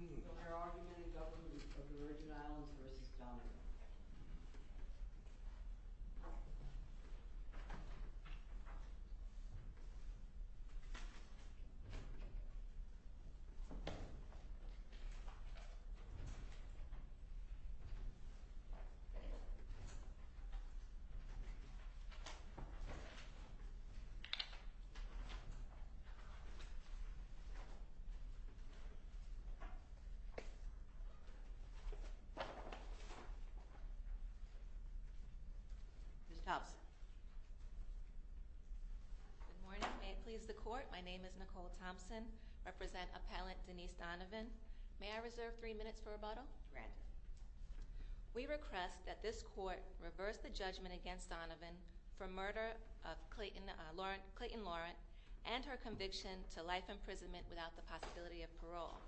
There are many Governments of the Virgin Islands v. Donovan. Good morning. May it please the Court, my name is Nicole Thompson. I represent Appellant Denise Donovan. May I reserve three minutes for rebuttal? Granted. We request that this Court reverse the judgment against Donovan for murder of Clayton Laurent and her conviction to life imprisonment without the possibility of parole.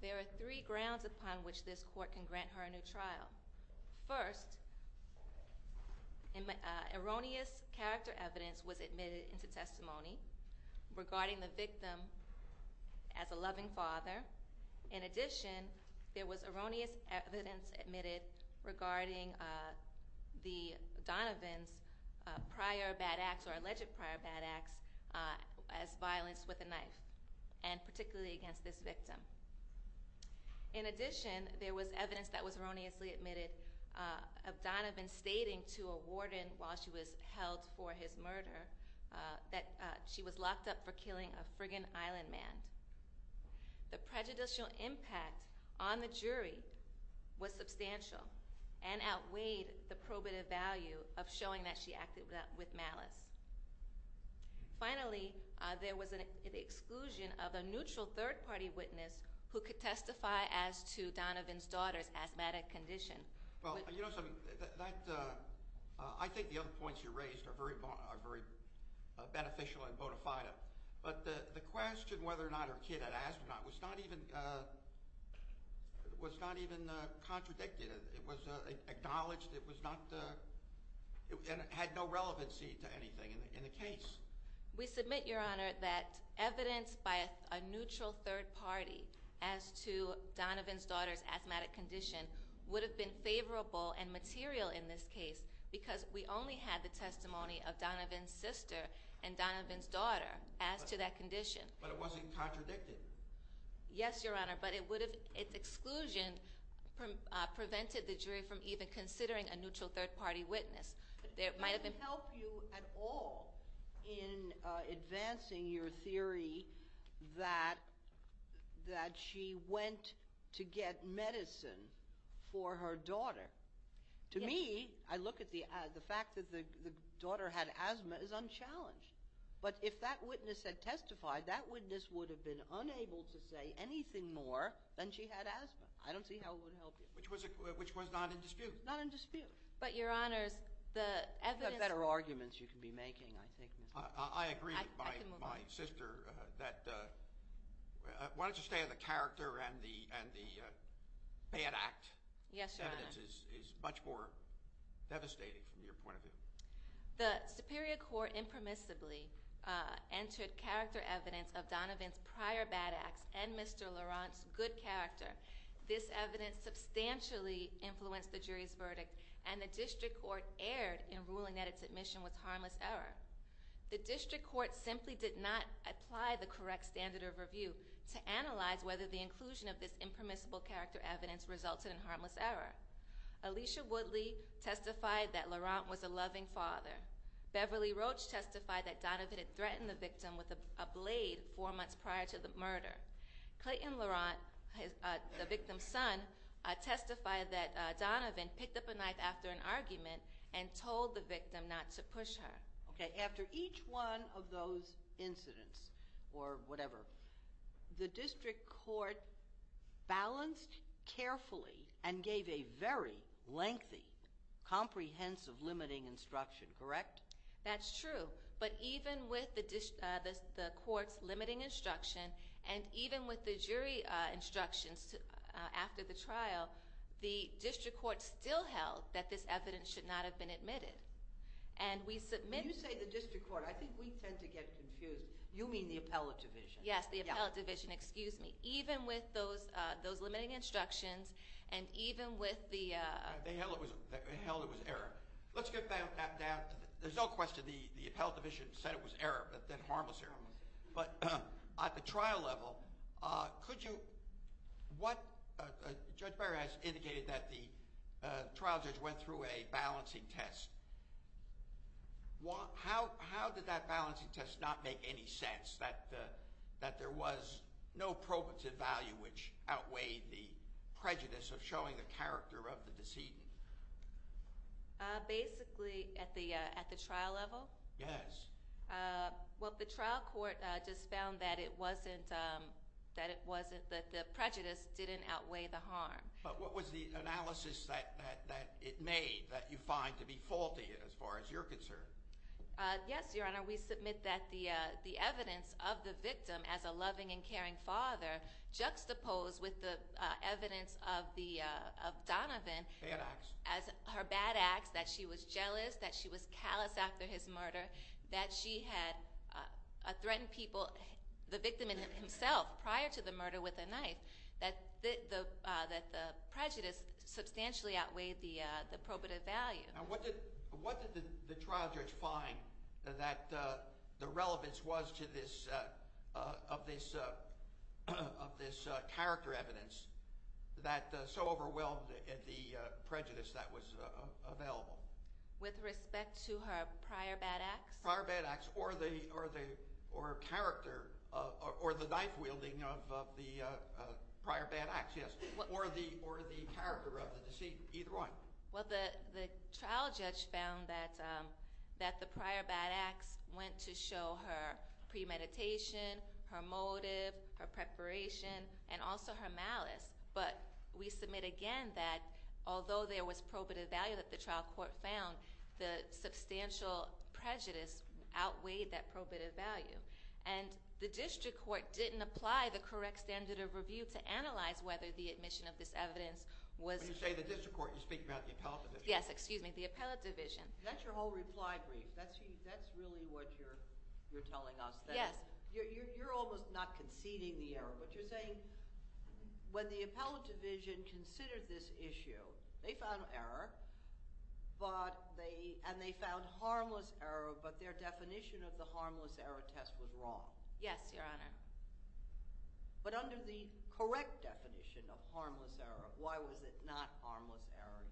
There are three grounds upon which this Court can grant her a new trial. First, erroneous character evidence was admitted into testimony regarding the victim as a loving father. In addition, there was erroneous evidence admitted regarding Donovan's prior bad acts as violence with a knife and particularly against this victim. In addition, there was evidence that was erroneously admitted of Donovan stating to a warden while she was held for his murder that she was locked up for killing a friggin' island man. The prejudicial impact on the jury was substantial and outweighed the probative value of showing that she acted with malice. Finally, there was an exclusion of a neutral third party witness who could testify as to Donovan's daughter's asthmatic condition. Well, you know something, I think the other points you raised are very beneficial and bonafide. But the question whether or not her kid had asthma was not even contradicted. It was acknowledged it had no relevancy to anything in the case. We submit, Your Honor, that evidence by a neutral third party as to Donovan's daughter's asthmatic condition would have been favorable and material in this case because we only had the testimony of Donovan's sister and Donovan's daughter as to that condition. But it wasn't contradicted. Yes, Your Honor, but its exclusion prevented the jury from even considering a neutral third party witness. But did it help you at all in advancing your theory that she went to get medicine for her daughter? To me, I look at the fact that the daughter had asthma as unchallenged. But if that witness had testified, that witness would have been unable to say anything more than she had asthma. I don't see how it would help you. Which was not in dispute. Not in dispute. But, Your Honors, the evidence— You have better arguments you could be making, I think, Mr.— I agree with my sister that—why don't you stay on the character and the bad act? Yes, Your Honor. The evidence is much more devastating from your point of view. The superior court impermissibly entered character evidence of Donovan's prior bad acts and Mr. Laurent's good character. This evidence substantially influenced the jury's verdict, and the district court erred in ruling that its admission was harmless error. The district court simply did not apply the correct standard of review to analyze whether the inclusion of this impermissible character evidence resulted in harmless error. Alicia Woodley testified that Laurent was a loving father. Beverly Roach testified that Donovan had threatened the victim with a blade four months prior to the murder. Clayton Laurent, the victim's son, testified that Donovan picked up a knife after an argument and told the victim not to push her. Okay, after each one of those incidents, or whatever, the district court balanced carefully and gave a very lengthy, comprehensive limiting instruction, correct? That's true. But even with the court's limiting instruction, and even with the jury instructions after the trial, the district court still held that this evidence should not have been admitted. You say the district court, I think we tend to get confused. You mean the appellate division. Yes, the appellate division. Excuse me. Even with those limiting instructions, and even with the… They held it was error. Let's get back down to the… There's no question the appellate division said it was error, but then harmless error. But at the trial level, could you… Judge Barrett has indicated that the trial judge went through a balancing test. How did that balancing test not make any sense, that there was no probative value which outweighed the prejudice of showing the character of the decedent? Basically, at the trial level? Yes. Well, the trial court just found that it wasn't – that the prejudice didn't outweigh the harm. But what was the analysis that it made that you find to be faulty as far as you're concerned? Yes, Your Honor, we submit that the evidence of the victim as a loving and caring father juxtaposed with the evidence of Donovan… Bad acts. …as her bad acts, that she was jealous, that she was callous after his murder, that she had threatened people – the victim himself prior to the murder with a knife – that the prejudice substantially outweighed the probative value. Now what did the trial judge find that the relevance was to this – of this character evidence that so overwhelmed the prejudice that was available? With respect to her prior bad acts? Prior bad acts, or the – or character – or the knife-wielding of the prior bad acts, yes. Or the character of the decedent, either one. Well, the trial judge found that the prior bad acts went to show her premeditation, her motive, her preparation, and also her malice. But we submit again that although there was probative value that the trial court found, the substantial prejudice outweighed that probative value. And the district court didn't apply the correct standard of review to analyze whether the admission of this evidence was… When you say the district court, you're speaking about the appellate division. Yes, excuse me. The appellate division. That's your whole reply brief. That's really what you're telling us. Yes. You're almost not conceding the error, but you're saying when the appellate division considered this issue, they found error, but they – and they found harmless error, but their definition of the harmless error test was wrong. Yes, Your Honor. But under the correct definition of harmless error, why was it not harmless error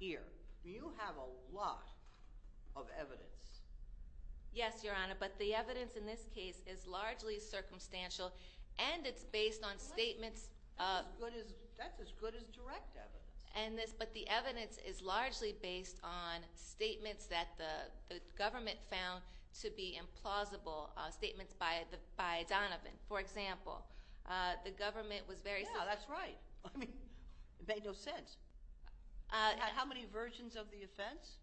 here? You have a lot of evidence. Yes, Your Honor, but the evidence in this case is largely circumstantial, and it's based on statements of… That's as good as direct evidence. But the evidence is largely based on statements that the government found to be implausible, statements by Donovan, for example. The government was very… Yeah, that's right. I mean, it made no sense. How many versions of the offense?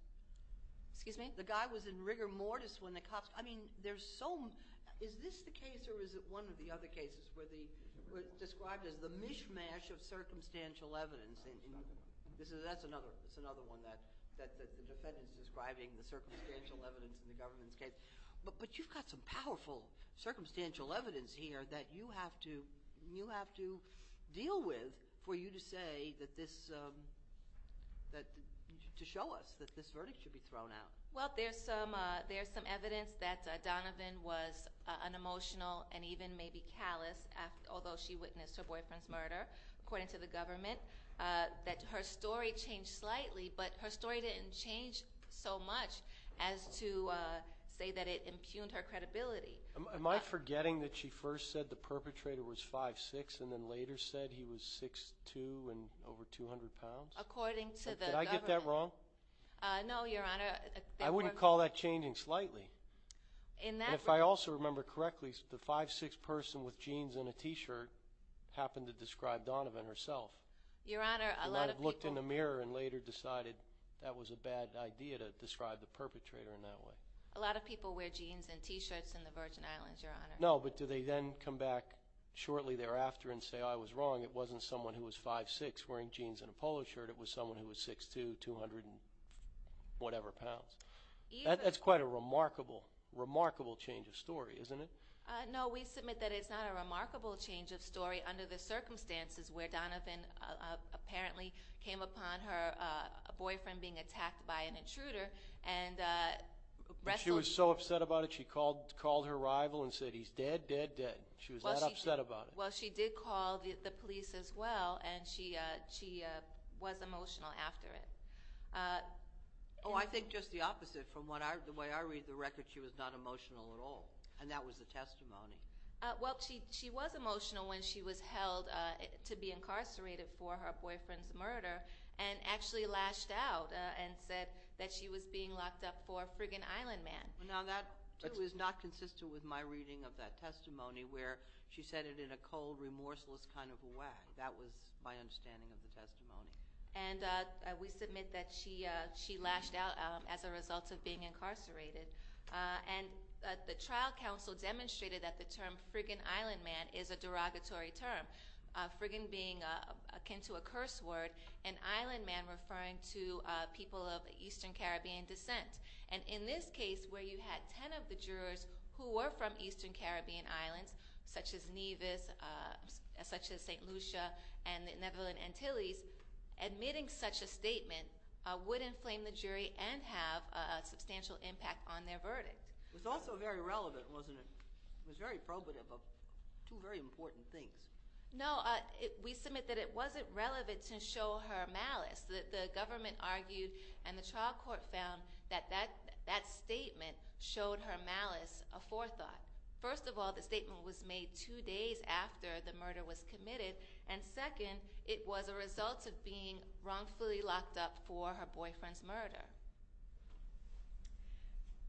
Excuse me? The guy was in rigor mortis when the cops – I mean, there's so – is this the case or is it one of the other cases where the – described as the mishmash of circumstantial evidence? That's another one that the defendant is describing, the circumstantial evidence in the government's case. But you've got some powerful circumstantial evidence here that you have to deal with for you to say that this – to show us that this verdict should be thrown out. Well, there's some evidence that Donovan was unemotional and even maybe callous, although she witnessed her boyfriend's murder, according to the government, that her story changed slightly, but her story didn't change so much as to say that it impugned her credibility. Am I forgetting that she first said the perpetrator was 5'6 and then later said he was 6'2 and over 200 pounds? According to the government… Did I get that wrong? No, Your Honor. I wouldn't call that changing slightly. And if I also remember correctly, the 5'6 person with jeans and a T-shirt happened to describe Donovan herself. Your Honor, a lot of people… And I looked in the mirror and later decided that was a bad idea to describe the perpetrator in that way. A lot of people wear jeans and T-shirts in the Virgin Islands, Your Honor. No, but do they then come back shortly thereafter and say, oh, I was wrong, it wasn't someone who was 5'6 wearing jeans and a polo shirt, it was someone who was 6'2, 200 and whatever pounds? That's quite a remarkable, remarkable change of story, isn't it? No, we submit that it's not a remarkable change of story under the circumstances where Donovan apparently came upon her boyfriend being attacked by an intruder and wrestled… She was so upset about it she called her rival and said, he's dead, dead, dead. She was that upset about it. Well, she did call the police as well, and she was emotional after it. Oh, I think just the opposite. From the way I read the record, she was not emotional at all, and that was the testimony. Well, she was emotional when she was held to be incarcerated for her boyfriend's murder and actually lashed out and said that she was being locked up for a frigging island man. Now, that too is not consistent with my reading of that testimony where she said it in a cold, remorseless kind of way. That was my understanding of the testimony. And we submit that she lashed out as a result of being incarcerated. And the trial counsel demonstrated that the term frigging island man is a derogatory term, frigging being akin to a curse word, and island man referring to people of Eastern Caribbean descent. And in this case where you had ten of the jurors who were from Eastern Caribbean islands, such as Nevis, such as St. Lucia, and the Netherlands Antilles, admitting such a statement would inflame the jury and have a substantial impact on their verdict. It was also very relevant, wasn't it? It was very probative of two very important things. No, we submit that it wasn't relevant to show her malice. The government argued and the trial court found that that statement showed her malice, a forethought. First of all, the statement was made two days after the murder was committed. And second, it was a result of being wrongfully locked up for her boyfriend's murder.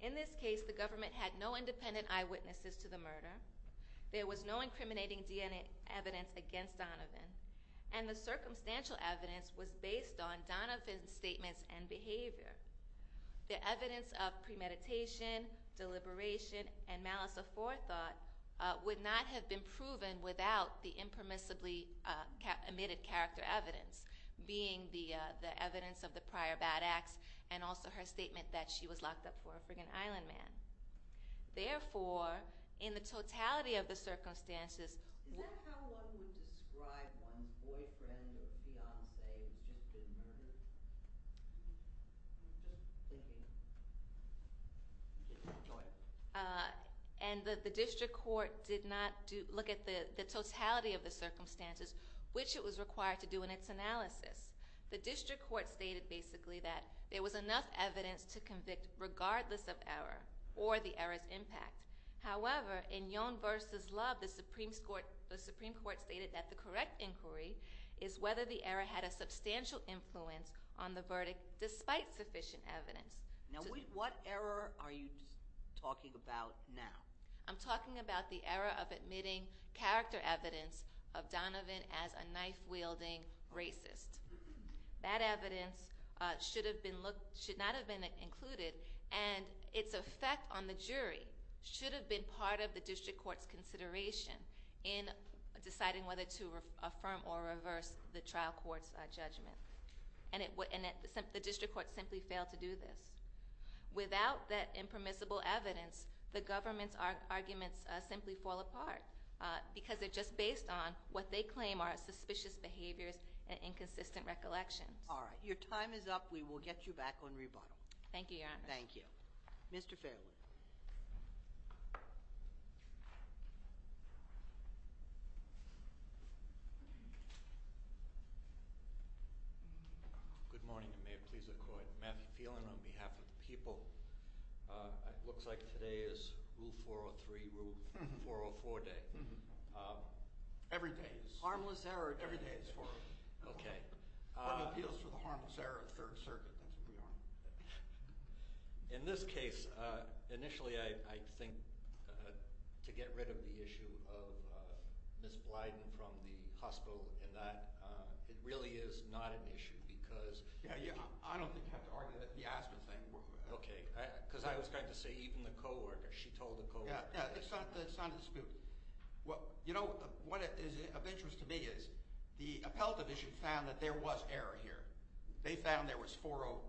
In this case, the government had no independent eyewitnesses to the murder. There was no incriminating DNA evidence against Donovan. And the circumstantial evidence was based on Donovan's statements and behavior. The evidence of premeditation, deliberation, and malice of forethought would not have been proven without the impermissibly omitted character evidence being the evidence of the prior bad acts and also her statement that she was locked up for a frigging island man. Therefore, in the totality of the circumstances... Is that how one would describe one's boyfriend or fiancé who's just been murdered? I'm just thinking. And the district court did not look at the totality of the circumstances, which it was required to do in its analysis. The district court stated basically that there was enough evidence to convict regardless of error or the error's impact. However, in Yohn v. Love, the Supreme Court stated that the correct inquiry is whether the error had a substantial influence on the verdict despite sufficient evidence. Now, what error are you talking about now? I'm talking about the error of admitting character evidence of Donovan as a knife-wielding racist. That evidence should not have been included, and its effect on the jury should have been part of the district court's consideration in deciding whether to affirm or reverse the trial court's judgment. And the district court simply failed to do this. Without that impermissible evidence, the government's arguments simply fall apart because they're just based on what they claim are suspicious behaviors and inconsistent recollections. All right, your time is up. We will get you back on rebuttal. Thank you, Your Honor. Thank you. Mr. Fairwood. Good morning, and may it please the Court. Matthew Phelan on behalf of the people. It looks like today is Rule 403, Rule 404 day. Every day is. Harmless error day. Every day is 403. Okay. One of the appeals for the harmless error of the Third Circuit, that's what we are on. In this case, initially I think to get rid of the issue of Ms. Blyden from the hospital and that it really is not an issue because Yeah, yeah, I don't think you have to argue that. Okay, because I was going to say even the co-worker, she told the co-worker. Yeah, it's not a dispute. You know, what is of interest to me is the appellate division found that there was error here. They found there was 403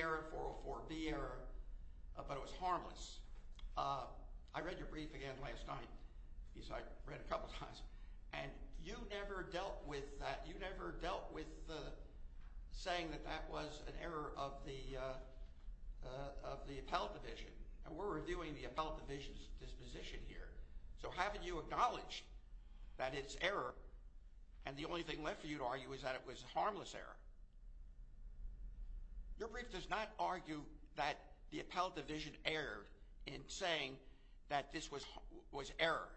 error, 404B error, but it was harmless. I read your brief again last night. I read it a couple of times. And you never dealt with that. You never dealt with saying that that was an error of the appellate division. And we're reviewing the appellate division's disposition here. So haven't you acknowledged that it's error and the only thing left for you to argue is that it was harmless error? Your brief does not argue that the appellate division erred in saying that this was error.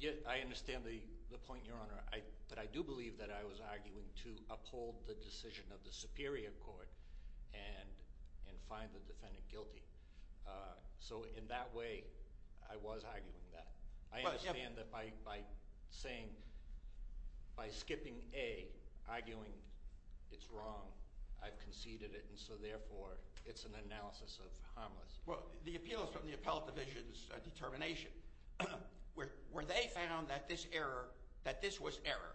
Yeah, I understand the point, Your Honor. But I do believe that I was arguing to uphold the decision of the superior court and find the defendant guilty. So in that way, I was arguing that. I understand that by saying, by skipping A, arguing it's wrong, I've conceded it. And so therefore, it's an analysis of harmless. Well, the appeal is from the appellate division's determination, where they found that this error, that this was error.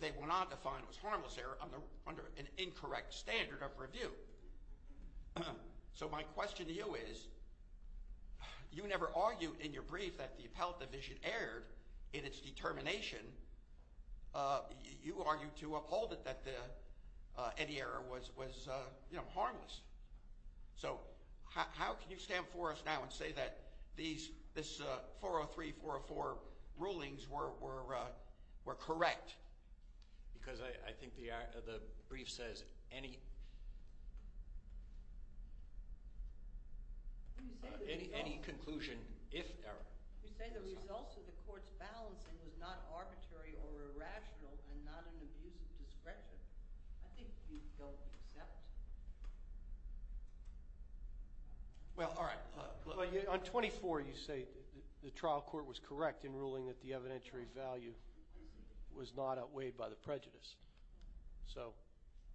They will not define it as harmless error under an incorrect standard of review. So my question to you is, you never argued in your brief that the appellate division erred in its determination. You argued to uphold it that any error was, you know, harmless. So how can you stand before us now and say that this 403, 404 rulings were correct? Because I think the brief says any conclusion, if error. You say the results of the court's balancing was not arbitrary or irrational and not an abuse of discretion. I think you don't accept. Well, all right. On 24, you say the trial court was correct in ruling that the evidentiary value was not outweighed by the prejudice. So,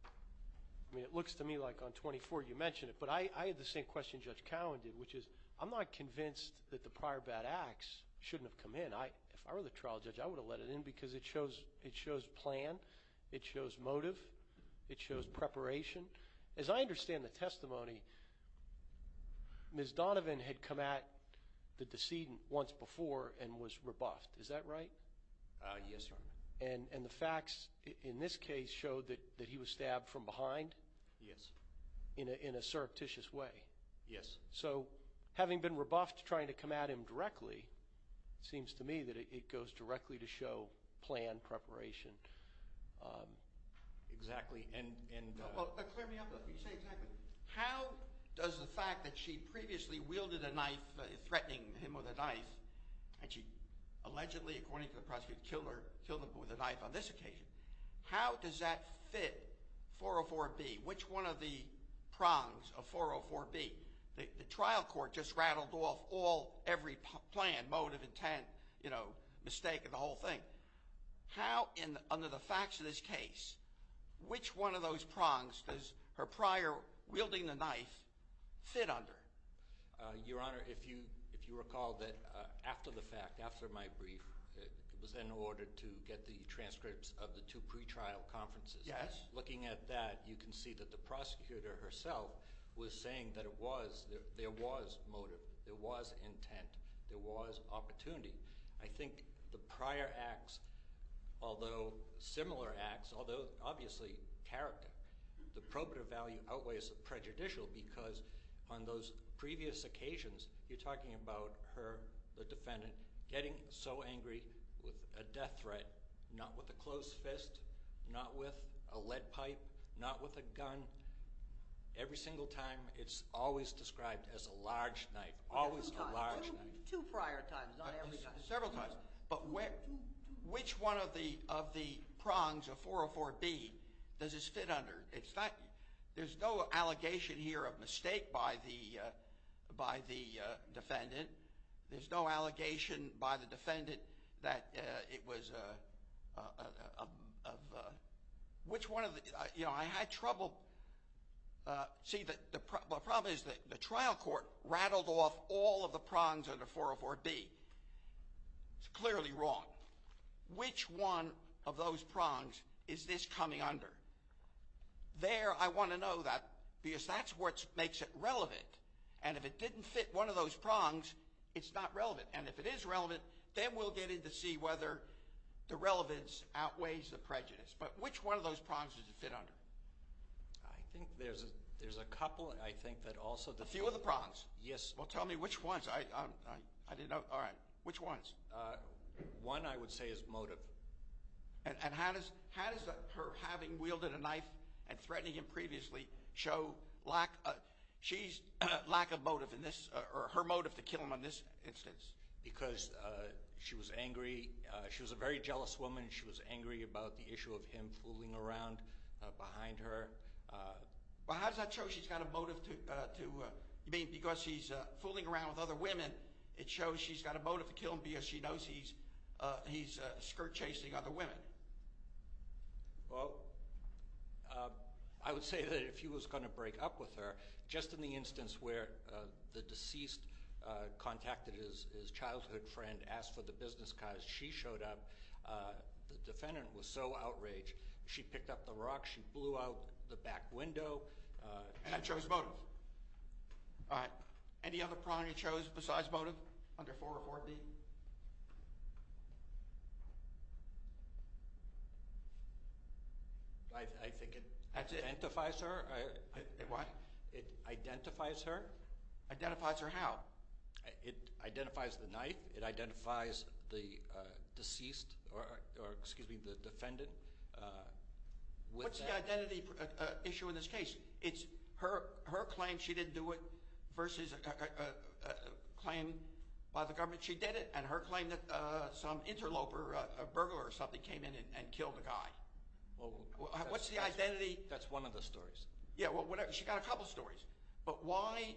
I mean, it looks to me like on 24 you mentioned it. But I had the same question Judge Cowen did, which is I'm not convinced that the prior bad acts shouldn't have come in. I mean, if I were the trial judge, I would have let it in because it shows plan. It shows motive. It shows preparation. As I understand the testimony, Ms. Donovan had come at the decedent once before and was rebuffed. Is that right? Yes, sir. And the facts in this case showed that he was stabbed from behind? Yes. In a surreptitious way? Yes. So, having been rebuffed trying to come at him directly, it seems to me that it goes directly to show plan, preparation, exactly. Clear me up a little bit. You say exactly. How does the fact that she previously wielded a knife, threatening him with a knife, and she allegedly, according to the prosecutor, killed him with a knife on this occasion, how does that fit 404B? Which one of the prongs of 404B? The trial court just rattled off every plan, motive, intent, mistake, and the whole thing. How, under the facts of this case, which one of those prongs does her prior wielding the knife fit under? Your Honor, if you recall that after the fact, after my brief, it was in order to get the transcripts of the two pretrial conferences. Yes. Looking at that, you can see that the prosecutor herself was saying that there was motive, there was intent, there was opportunity. I think the prior acts, although similar acts, although obviously character, the probative value outweighs the prejudicial because on those previous occasions, you're talking about her, the defendant, getting so angry with a death threat, not with a close fist, not with a lead pipe, not with a gun. Every single time, it's always described as a large knife, always a large knife. Two prior times, not every time. Several times, but which one of the prongs of 404B does this fit under? There's no allegation here of mistake by the defendant. There's no allegation by the defendant that it was a, which one of the, you know, I had trouble. See, the problem is that the trial court rattled off all of the prongs under 404B. It's clearly wrong. Which one of those prongs is this coming under? There, I want to know that because that's what makes it relevant. And if it didn't fit one of those prongs, it's not relevant. And if it is relevant, then we'll get in to see whether the relevance outweighs the prejudice. But which one of those prongs does it fit under? I think there's a couple. I think that also the- A few of the prongs. Yes. Well, tell me which ones. I didn't know. All right. Which ones? One, I would say, is motive. And how does her having wielded a knife and threatening him previously show lack of, she's lack of motive in this, or her motive to kill him in this instance? Because she was angry. She was a very jealous woman. She was angry about the issue of him fooling around behind her. Well, how does that show she's got a motive to, I mean, because he's fooling around with other women, it shows she's got a motive to kill him because she knows he's skirt-chasing other women. Well, I would say that if he was going to break up with her, just in the instance where the deceased contacted his childhood friend, asked for the business card, she showed up. The defendant was so outraged, she picked up the rock, she blew out the back window. And that shows motive. All right. Any other priority shows besides motive under 404B? I think it identifies her. What? It identifies her. Identifies her how? It identifies the knife. It identifies the deceased or, excuse me, the defendant. What's the identity issue in this case? It's her claim she didn't do it versus a claim by the government she did it, and her claim that some interloper, a burglar or something, came in and killed a guy. What's the identity? That's one of the stories. Yeah, well, she's got a couple stories. But why?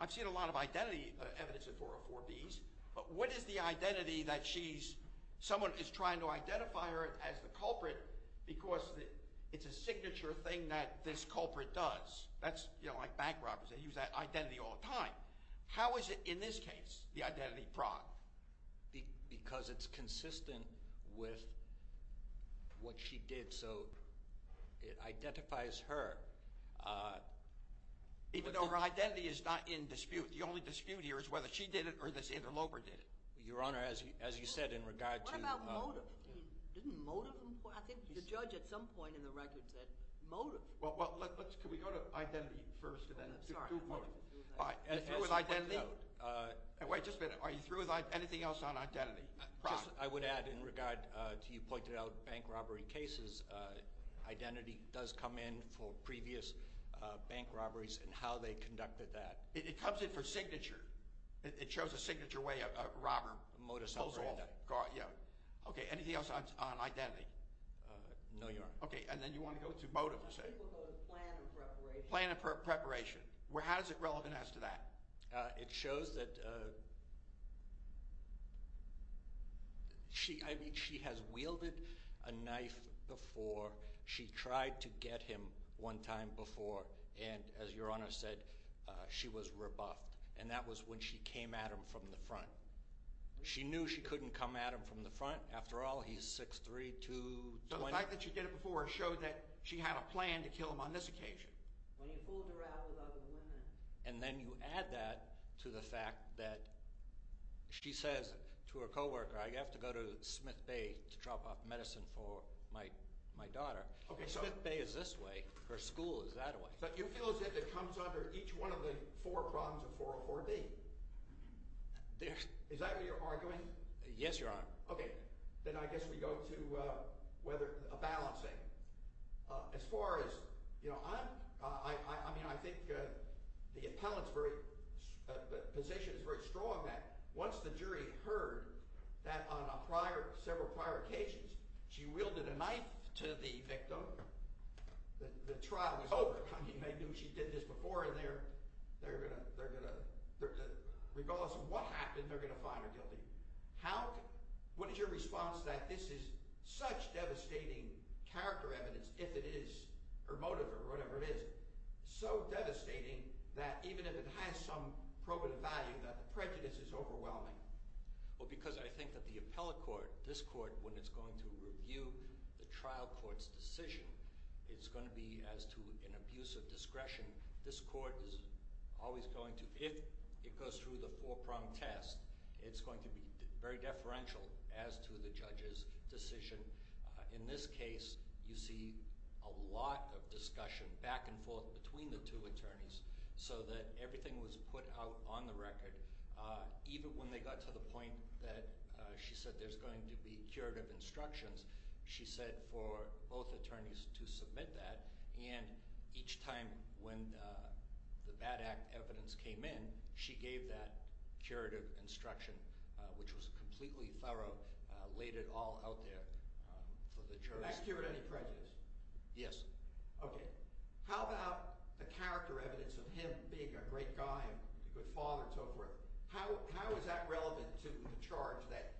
I've seen a lot of identity evidence in 404Bs. But what is the identity that she's – someone is trying to identify her as the culprit because it's a signature thing that this culprit does. That's, you know, like bank robbers. They use that identity all the time. How is it in this case, the identity fraud? Because it's consistent with what she did. Even though her identity is not in dispute. The only dispute here is whether she did it or this interloper did it. Your Honor, as you said in regard to – What about motive? Didn't motive important? I think the judge at some point in the record said motive. Well, let's – can we go to identity first and then to motive? You're through with identity? Wait just a minute. Are you through with anything else on identity? I would add in regard to you pointed out bank robbery cases, identity does come in for previous bank robberies and how they conducted that. It comes in for signature. It shows a signature way a robber pulls off. Okay, anything else on identity? No, Your Honor. Okay, and then you want to go to motive. Most people go to plan and preparation. Plan and preparation. How is it relevant as to that? It shows that she – I mean she has wielded a knife before. She tried to get him one time before, and as Your Honor said, she was rebuffed, and that was when she came at him from the front. She knew she couldn't come at him from the front. After all, he's 6'3", 2'20". The fact that she did it before showed that she had a plan to kill him on this occasion. When you fooled her out with other women. And then you add that to the fact that she says to her co-worker, I have to go to Smith Bay to drop off medicine for my daughter. Okay, so – Her school is that way. But you feel as if it comes under each one of the four problems of 404B. Is that what you're arguing? Yes, Your Honor. Okay, then I guess we go to whether – a balancing. As far as – you know, I'm – I mean I think the appellant's position is very strong that once the jury heard that on a prior – several prior occasions, she wielded a knife to the victim. The trial was over. She did this before and they're going to – regardless of what happened, they're going to find her guilty. How – what is your response to that? This is such devastating character evidence, if it is, or motive or whatever it is, so devastating that even if it has some probative value that the prejudice is overwhelming. Well, because I think that the appellate court, this court, when it's going to review the trial court's decision, it's going to be as to an abuse of discretion. This court is always going to – if it goes through the four-prong test, it's going to be very deferential as to the judge's decision. In this case, you see a lot of discussion back and forth between the two attorneys so that everything was put out on the record. Even when they got to the point that she said there's going to be curative instructions, she said for both attorneys to submit that, and each time when the bad act evidence came in, she gave that curative instruction, which was completely thorough, laid it all out there for the jury. Did that cure any prejudice? Yes. Okay. How about the character evidence of him being a great guy and a good father and so forth? How is that relevant to the charge that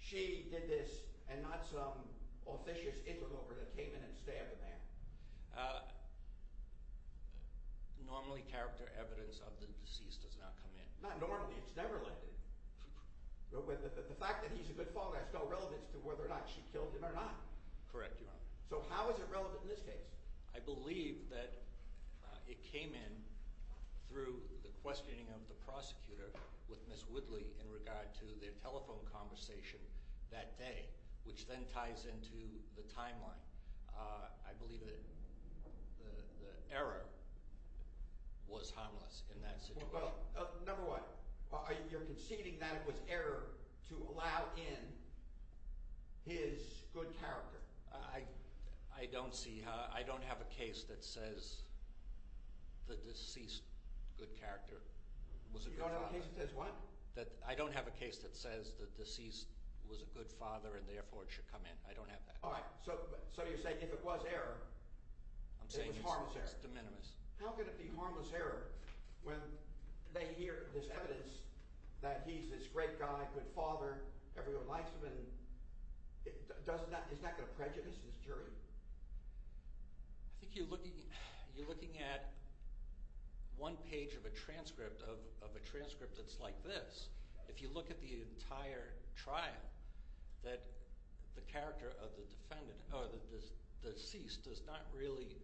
she did this and not some officious inland over that came in and stabbed a man? Normally, character evidence of the deceased does not come in. Not normally. It's never let in. The fact that he's a good father has no relevance to whether or not she killed him or not. Correct, Your Honor. So how is it relevant in this case? I believe that it came in through the questioning of the prosecutor with Ms. Woodley in regard to their telephone conversation that day, which then ties into the timeline. I believe that the error was harmless in that situation. Number one, you're conceding that it was error to allow in his good character. I don't see – I don't have a case that says the deceased good character was a good father. You don't have a case that says what? I don't have a case that says the deceased was a good father and therefore it should come in. I don't have that. All right. So you're saying if it was error, it was harmless error. I'm saying it's de minimis. How could it be harmless error when they hear this evidence that he's this great guy, good father, everyone likes him, and it's not going to prejudice his jury? I think you're looking at one page of a transcript of a transcript that's like this. If you look at the entire trial, the character of the deceased does not really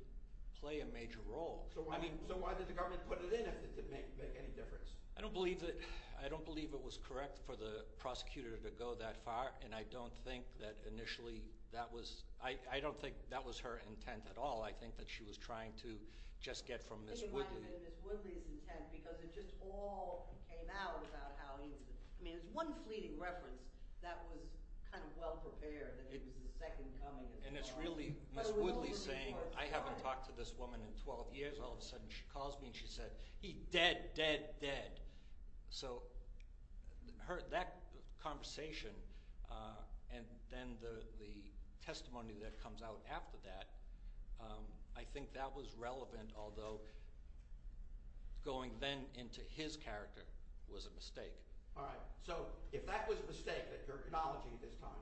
play a major role. So why did the government put it in if it didn't make any difference? I don't believe that – I don't believe it was correct for the prosecutor to go that far, and I don't think that initially that was – I don't think that was her intent at all. I think that she was trying to just get from Ms. Woodley. I think it might have been Ms. Woodley's intent because it just all came out about how he was – I mean there's one fleeting reference that was kind of well-prepared that he was the second coming. And it's really Ms. Woodley saying I haven't talked to this woman in 12 years. All of a sudden she calls me and she said, he's dead, dead, dead. So that conversation and then the testimony that comes out after that, I think that was relevant, although going then into his character was a mistake. All right, so if that was a mistake that you're acknowledging at this time,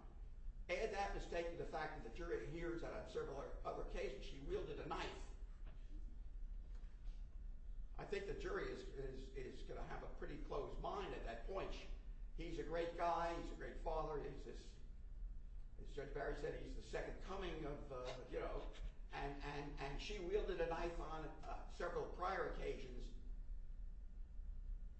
add that mistake to the fact that the jury hears that on several other occasions she wielded a knife. I think the jury is going to have a pretty closed mind at that point. He's a great guy. He's a great father. Judge Barry said he's the second coming of – and she wielded a knife on several prior occasions.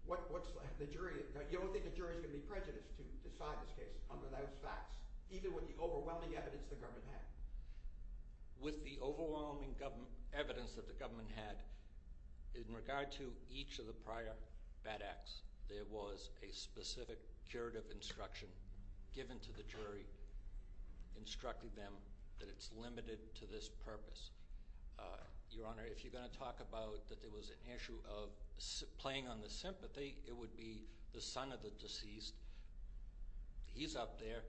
What's the jury – you don't think the jury's going to be prejudiced to decide this case under those facts, even with the overwhelming evidence the government had? With the overwhelming evidence that the government had, in regard to each of the prior bad acts, there was a specific curative instruction given to the jury instructing them that it's limited to this purpose. Your Honor, if you're going to talk about that there was an issue of playing on the sympathy, it would be the son of the deceased. He's up there.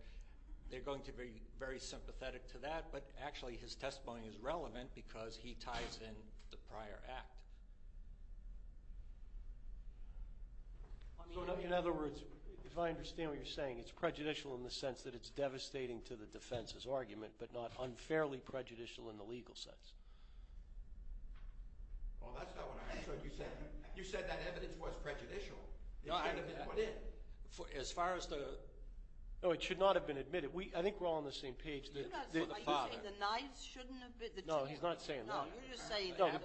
They're going to be very sympathetic to that, but actually his testimony is relevant because he ties in the prior act. In other words, if I understand what you're saying, it's prejudicial in the sense that it's devastating to the defense's argument, but not unfairly prejudicial in the legal sense. Well, that's not what I understood you said. You said that evidence was prejudicial. As far as the – No, it should not have been admitted. I think we're all on the same page. Are you saying the knives shouldn't have been – No, he's not saying that. No, you're just saying – No, the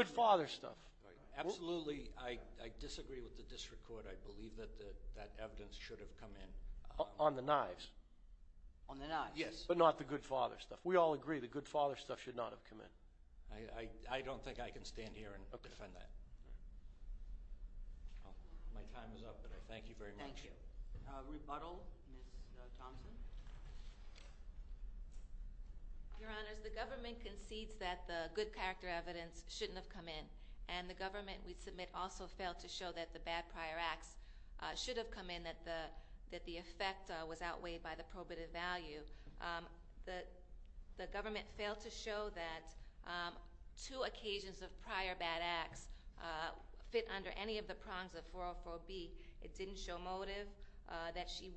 good father stuff. Absolutely, I disagree with the district court. I believe that that evidence should have come in. On the knives. On the knives, yes. But not the good father stuff. We all agree the good father stuff should not have come in. I don't think I can stand here and defend that. My time is up, but I thank you very much. Thank you. Rebuttal, Ms. Thompson. Your Honors, the government concedes that the good character evidence shouldn't have come in, and the government we submit also failed to show that the bad prior acts should have come in, and that the effect was outweighed by the probative value. The government failed to show that two occasions of prior bad acts fit under any of the prongs of 404B. It didn't show motive that she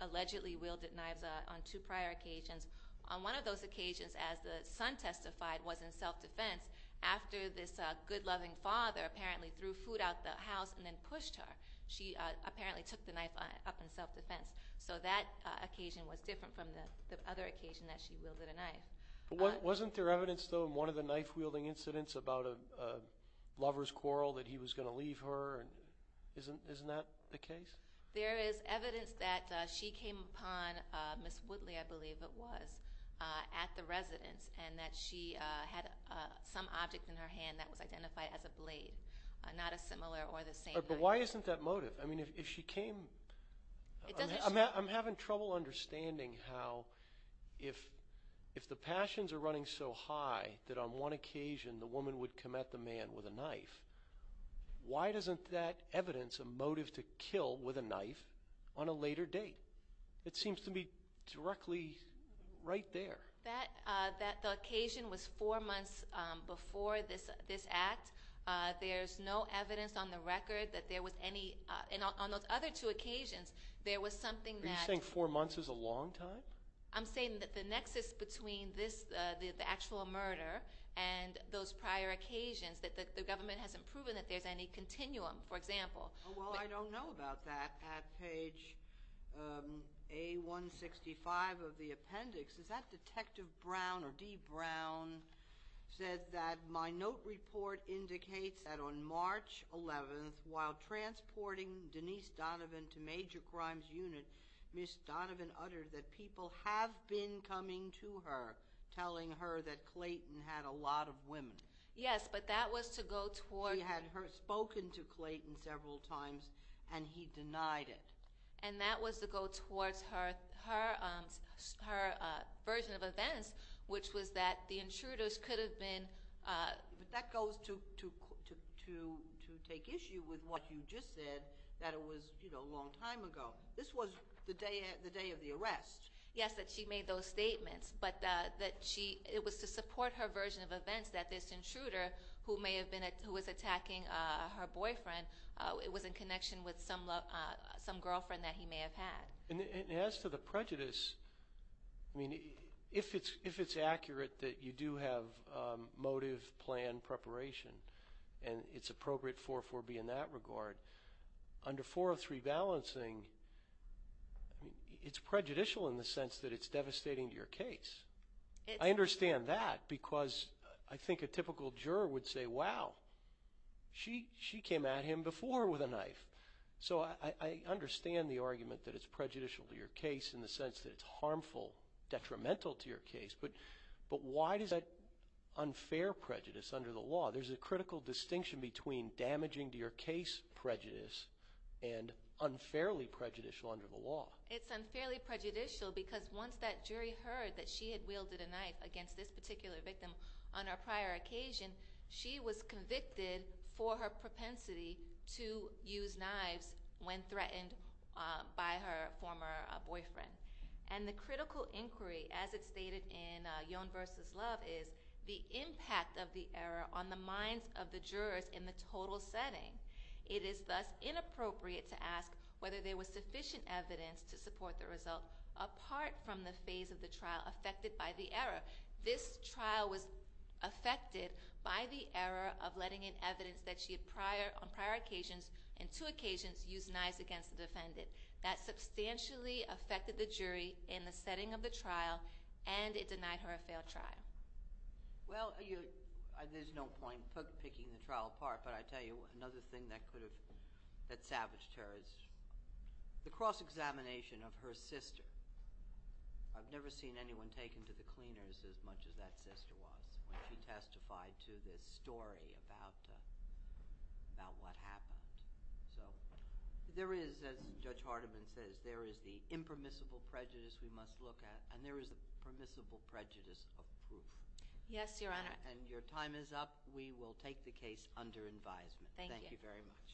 allegedly wielded knives on two prior occasions. On one of those occasions, as the son testified, was in self-defense after this good loving father apparently threw food out the house and then pushed her. She apparently took the knife up in self-defense. So that occasion was different from the other occasion that she wielded a knife. Wasn't there evidence, though, in one of the knife-wielding incidents about a lover's quarrel, that he was going to leave her? Isn't that the case? There is evidence that she came upon Ms. Woodley, I believe it was, at the residence, and that she had some object in her hand that was identified as a blade, not a similar or the same knife. But why isn't that motive? I mean, if she came, I'm having trouble understanding how, if the passions are running so high that on one occasion the woman would come at the man with a knife, why doesn't that evidence a motive to kill with a knife on a later date? It seems to me directly right there. The occasion was four months before this act. There's no evidence on the record that there was any. And on those other two occasions, there was something that. Are you saying four months is a long time? I'm saying that the nexus between the actual murder and those prior occasions, that the government hasn't proven that there's any continuum, for example. Well, I don't know about that. At page A165 of the appendix, is that Detective Brown or Dee Brown said that my note report indicates that on March 11th, while transporting Denise Donovan to Major Crimes Unit, Ms. Donovan uttered that people have been coming to her telling her that Clayton had a lot of women. Yes, but that was to go towards. She had spoken to Clayton several times, and he denied it. And that was to go towards her version of events, which was that the intruders could have been. But that goes to take issue with what you just said, that it was a long time ago. This was the day of the arrest. Yes, that she made those statements. But it was to support her version of events that this intruder, who was attacking her boyfriend, was in connection with some girlfriend that he may have had. And as to the prejudice, if it's accurate that you do have motive, plan, preparation, and it's appropriate for it to be in that regard, under 403 balancing, it's prejudicial in the sense that it's devastating to your case. I understand that, because I think a typical juror would say, wow, she came at him before with a knife. So I understand the argument that it's prejudicial to your case in the sense that it's harmful, detrimental to your case. But why does that unfair prejudice under the law? There's a critical distinction between damaging to your case prejudice and unfairly prejudicial under the law. It's unfairly prejudicial because once that jury heard that she had wielded a knife against this particular victim on her prior occasion, she was convicted for her propensity to use knives when threatened by her former boyfriend. And the critical inquiry, as it's stated in Yohn v. Love, is the impact of the error on the minds of the jurors in the total setting. It is thus inappropriate to ask whether there was sufficient evidence to support the result apart from the phase of the trial affected by the error. This trial was affected by the error of letting in evidence that she had on prior occasions and two occasions used knives against the defendant. That substantially affected the jury in the setting of the trial, and it denied her a failed trial. Well, there's no point picking the trial apart, but I tell you another thing that could have savaged her is the cross-examination of her sister. I've never seen anyone taken to the cleaners as much as that sister was when she testified to this story about what happened. So there is, as Judge Hardiman says, there is the impermissible prejudice we must look at, and there is the permissible prejudice of proof. Yes, Your Honor. And your time is up. We will take the case under advisement. Thank you. Thank you very much.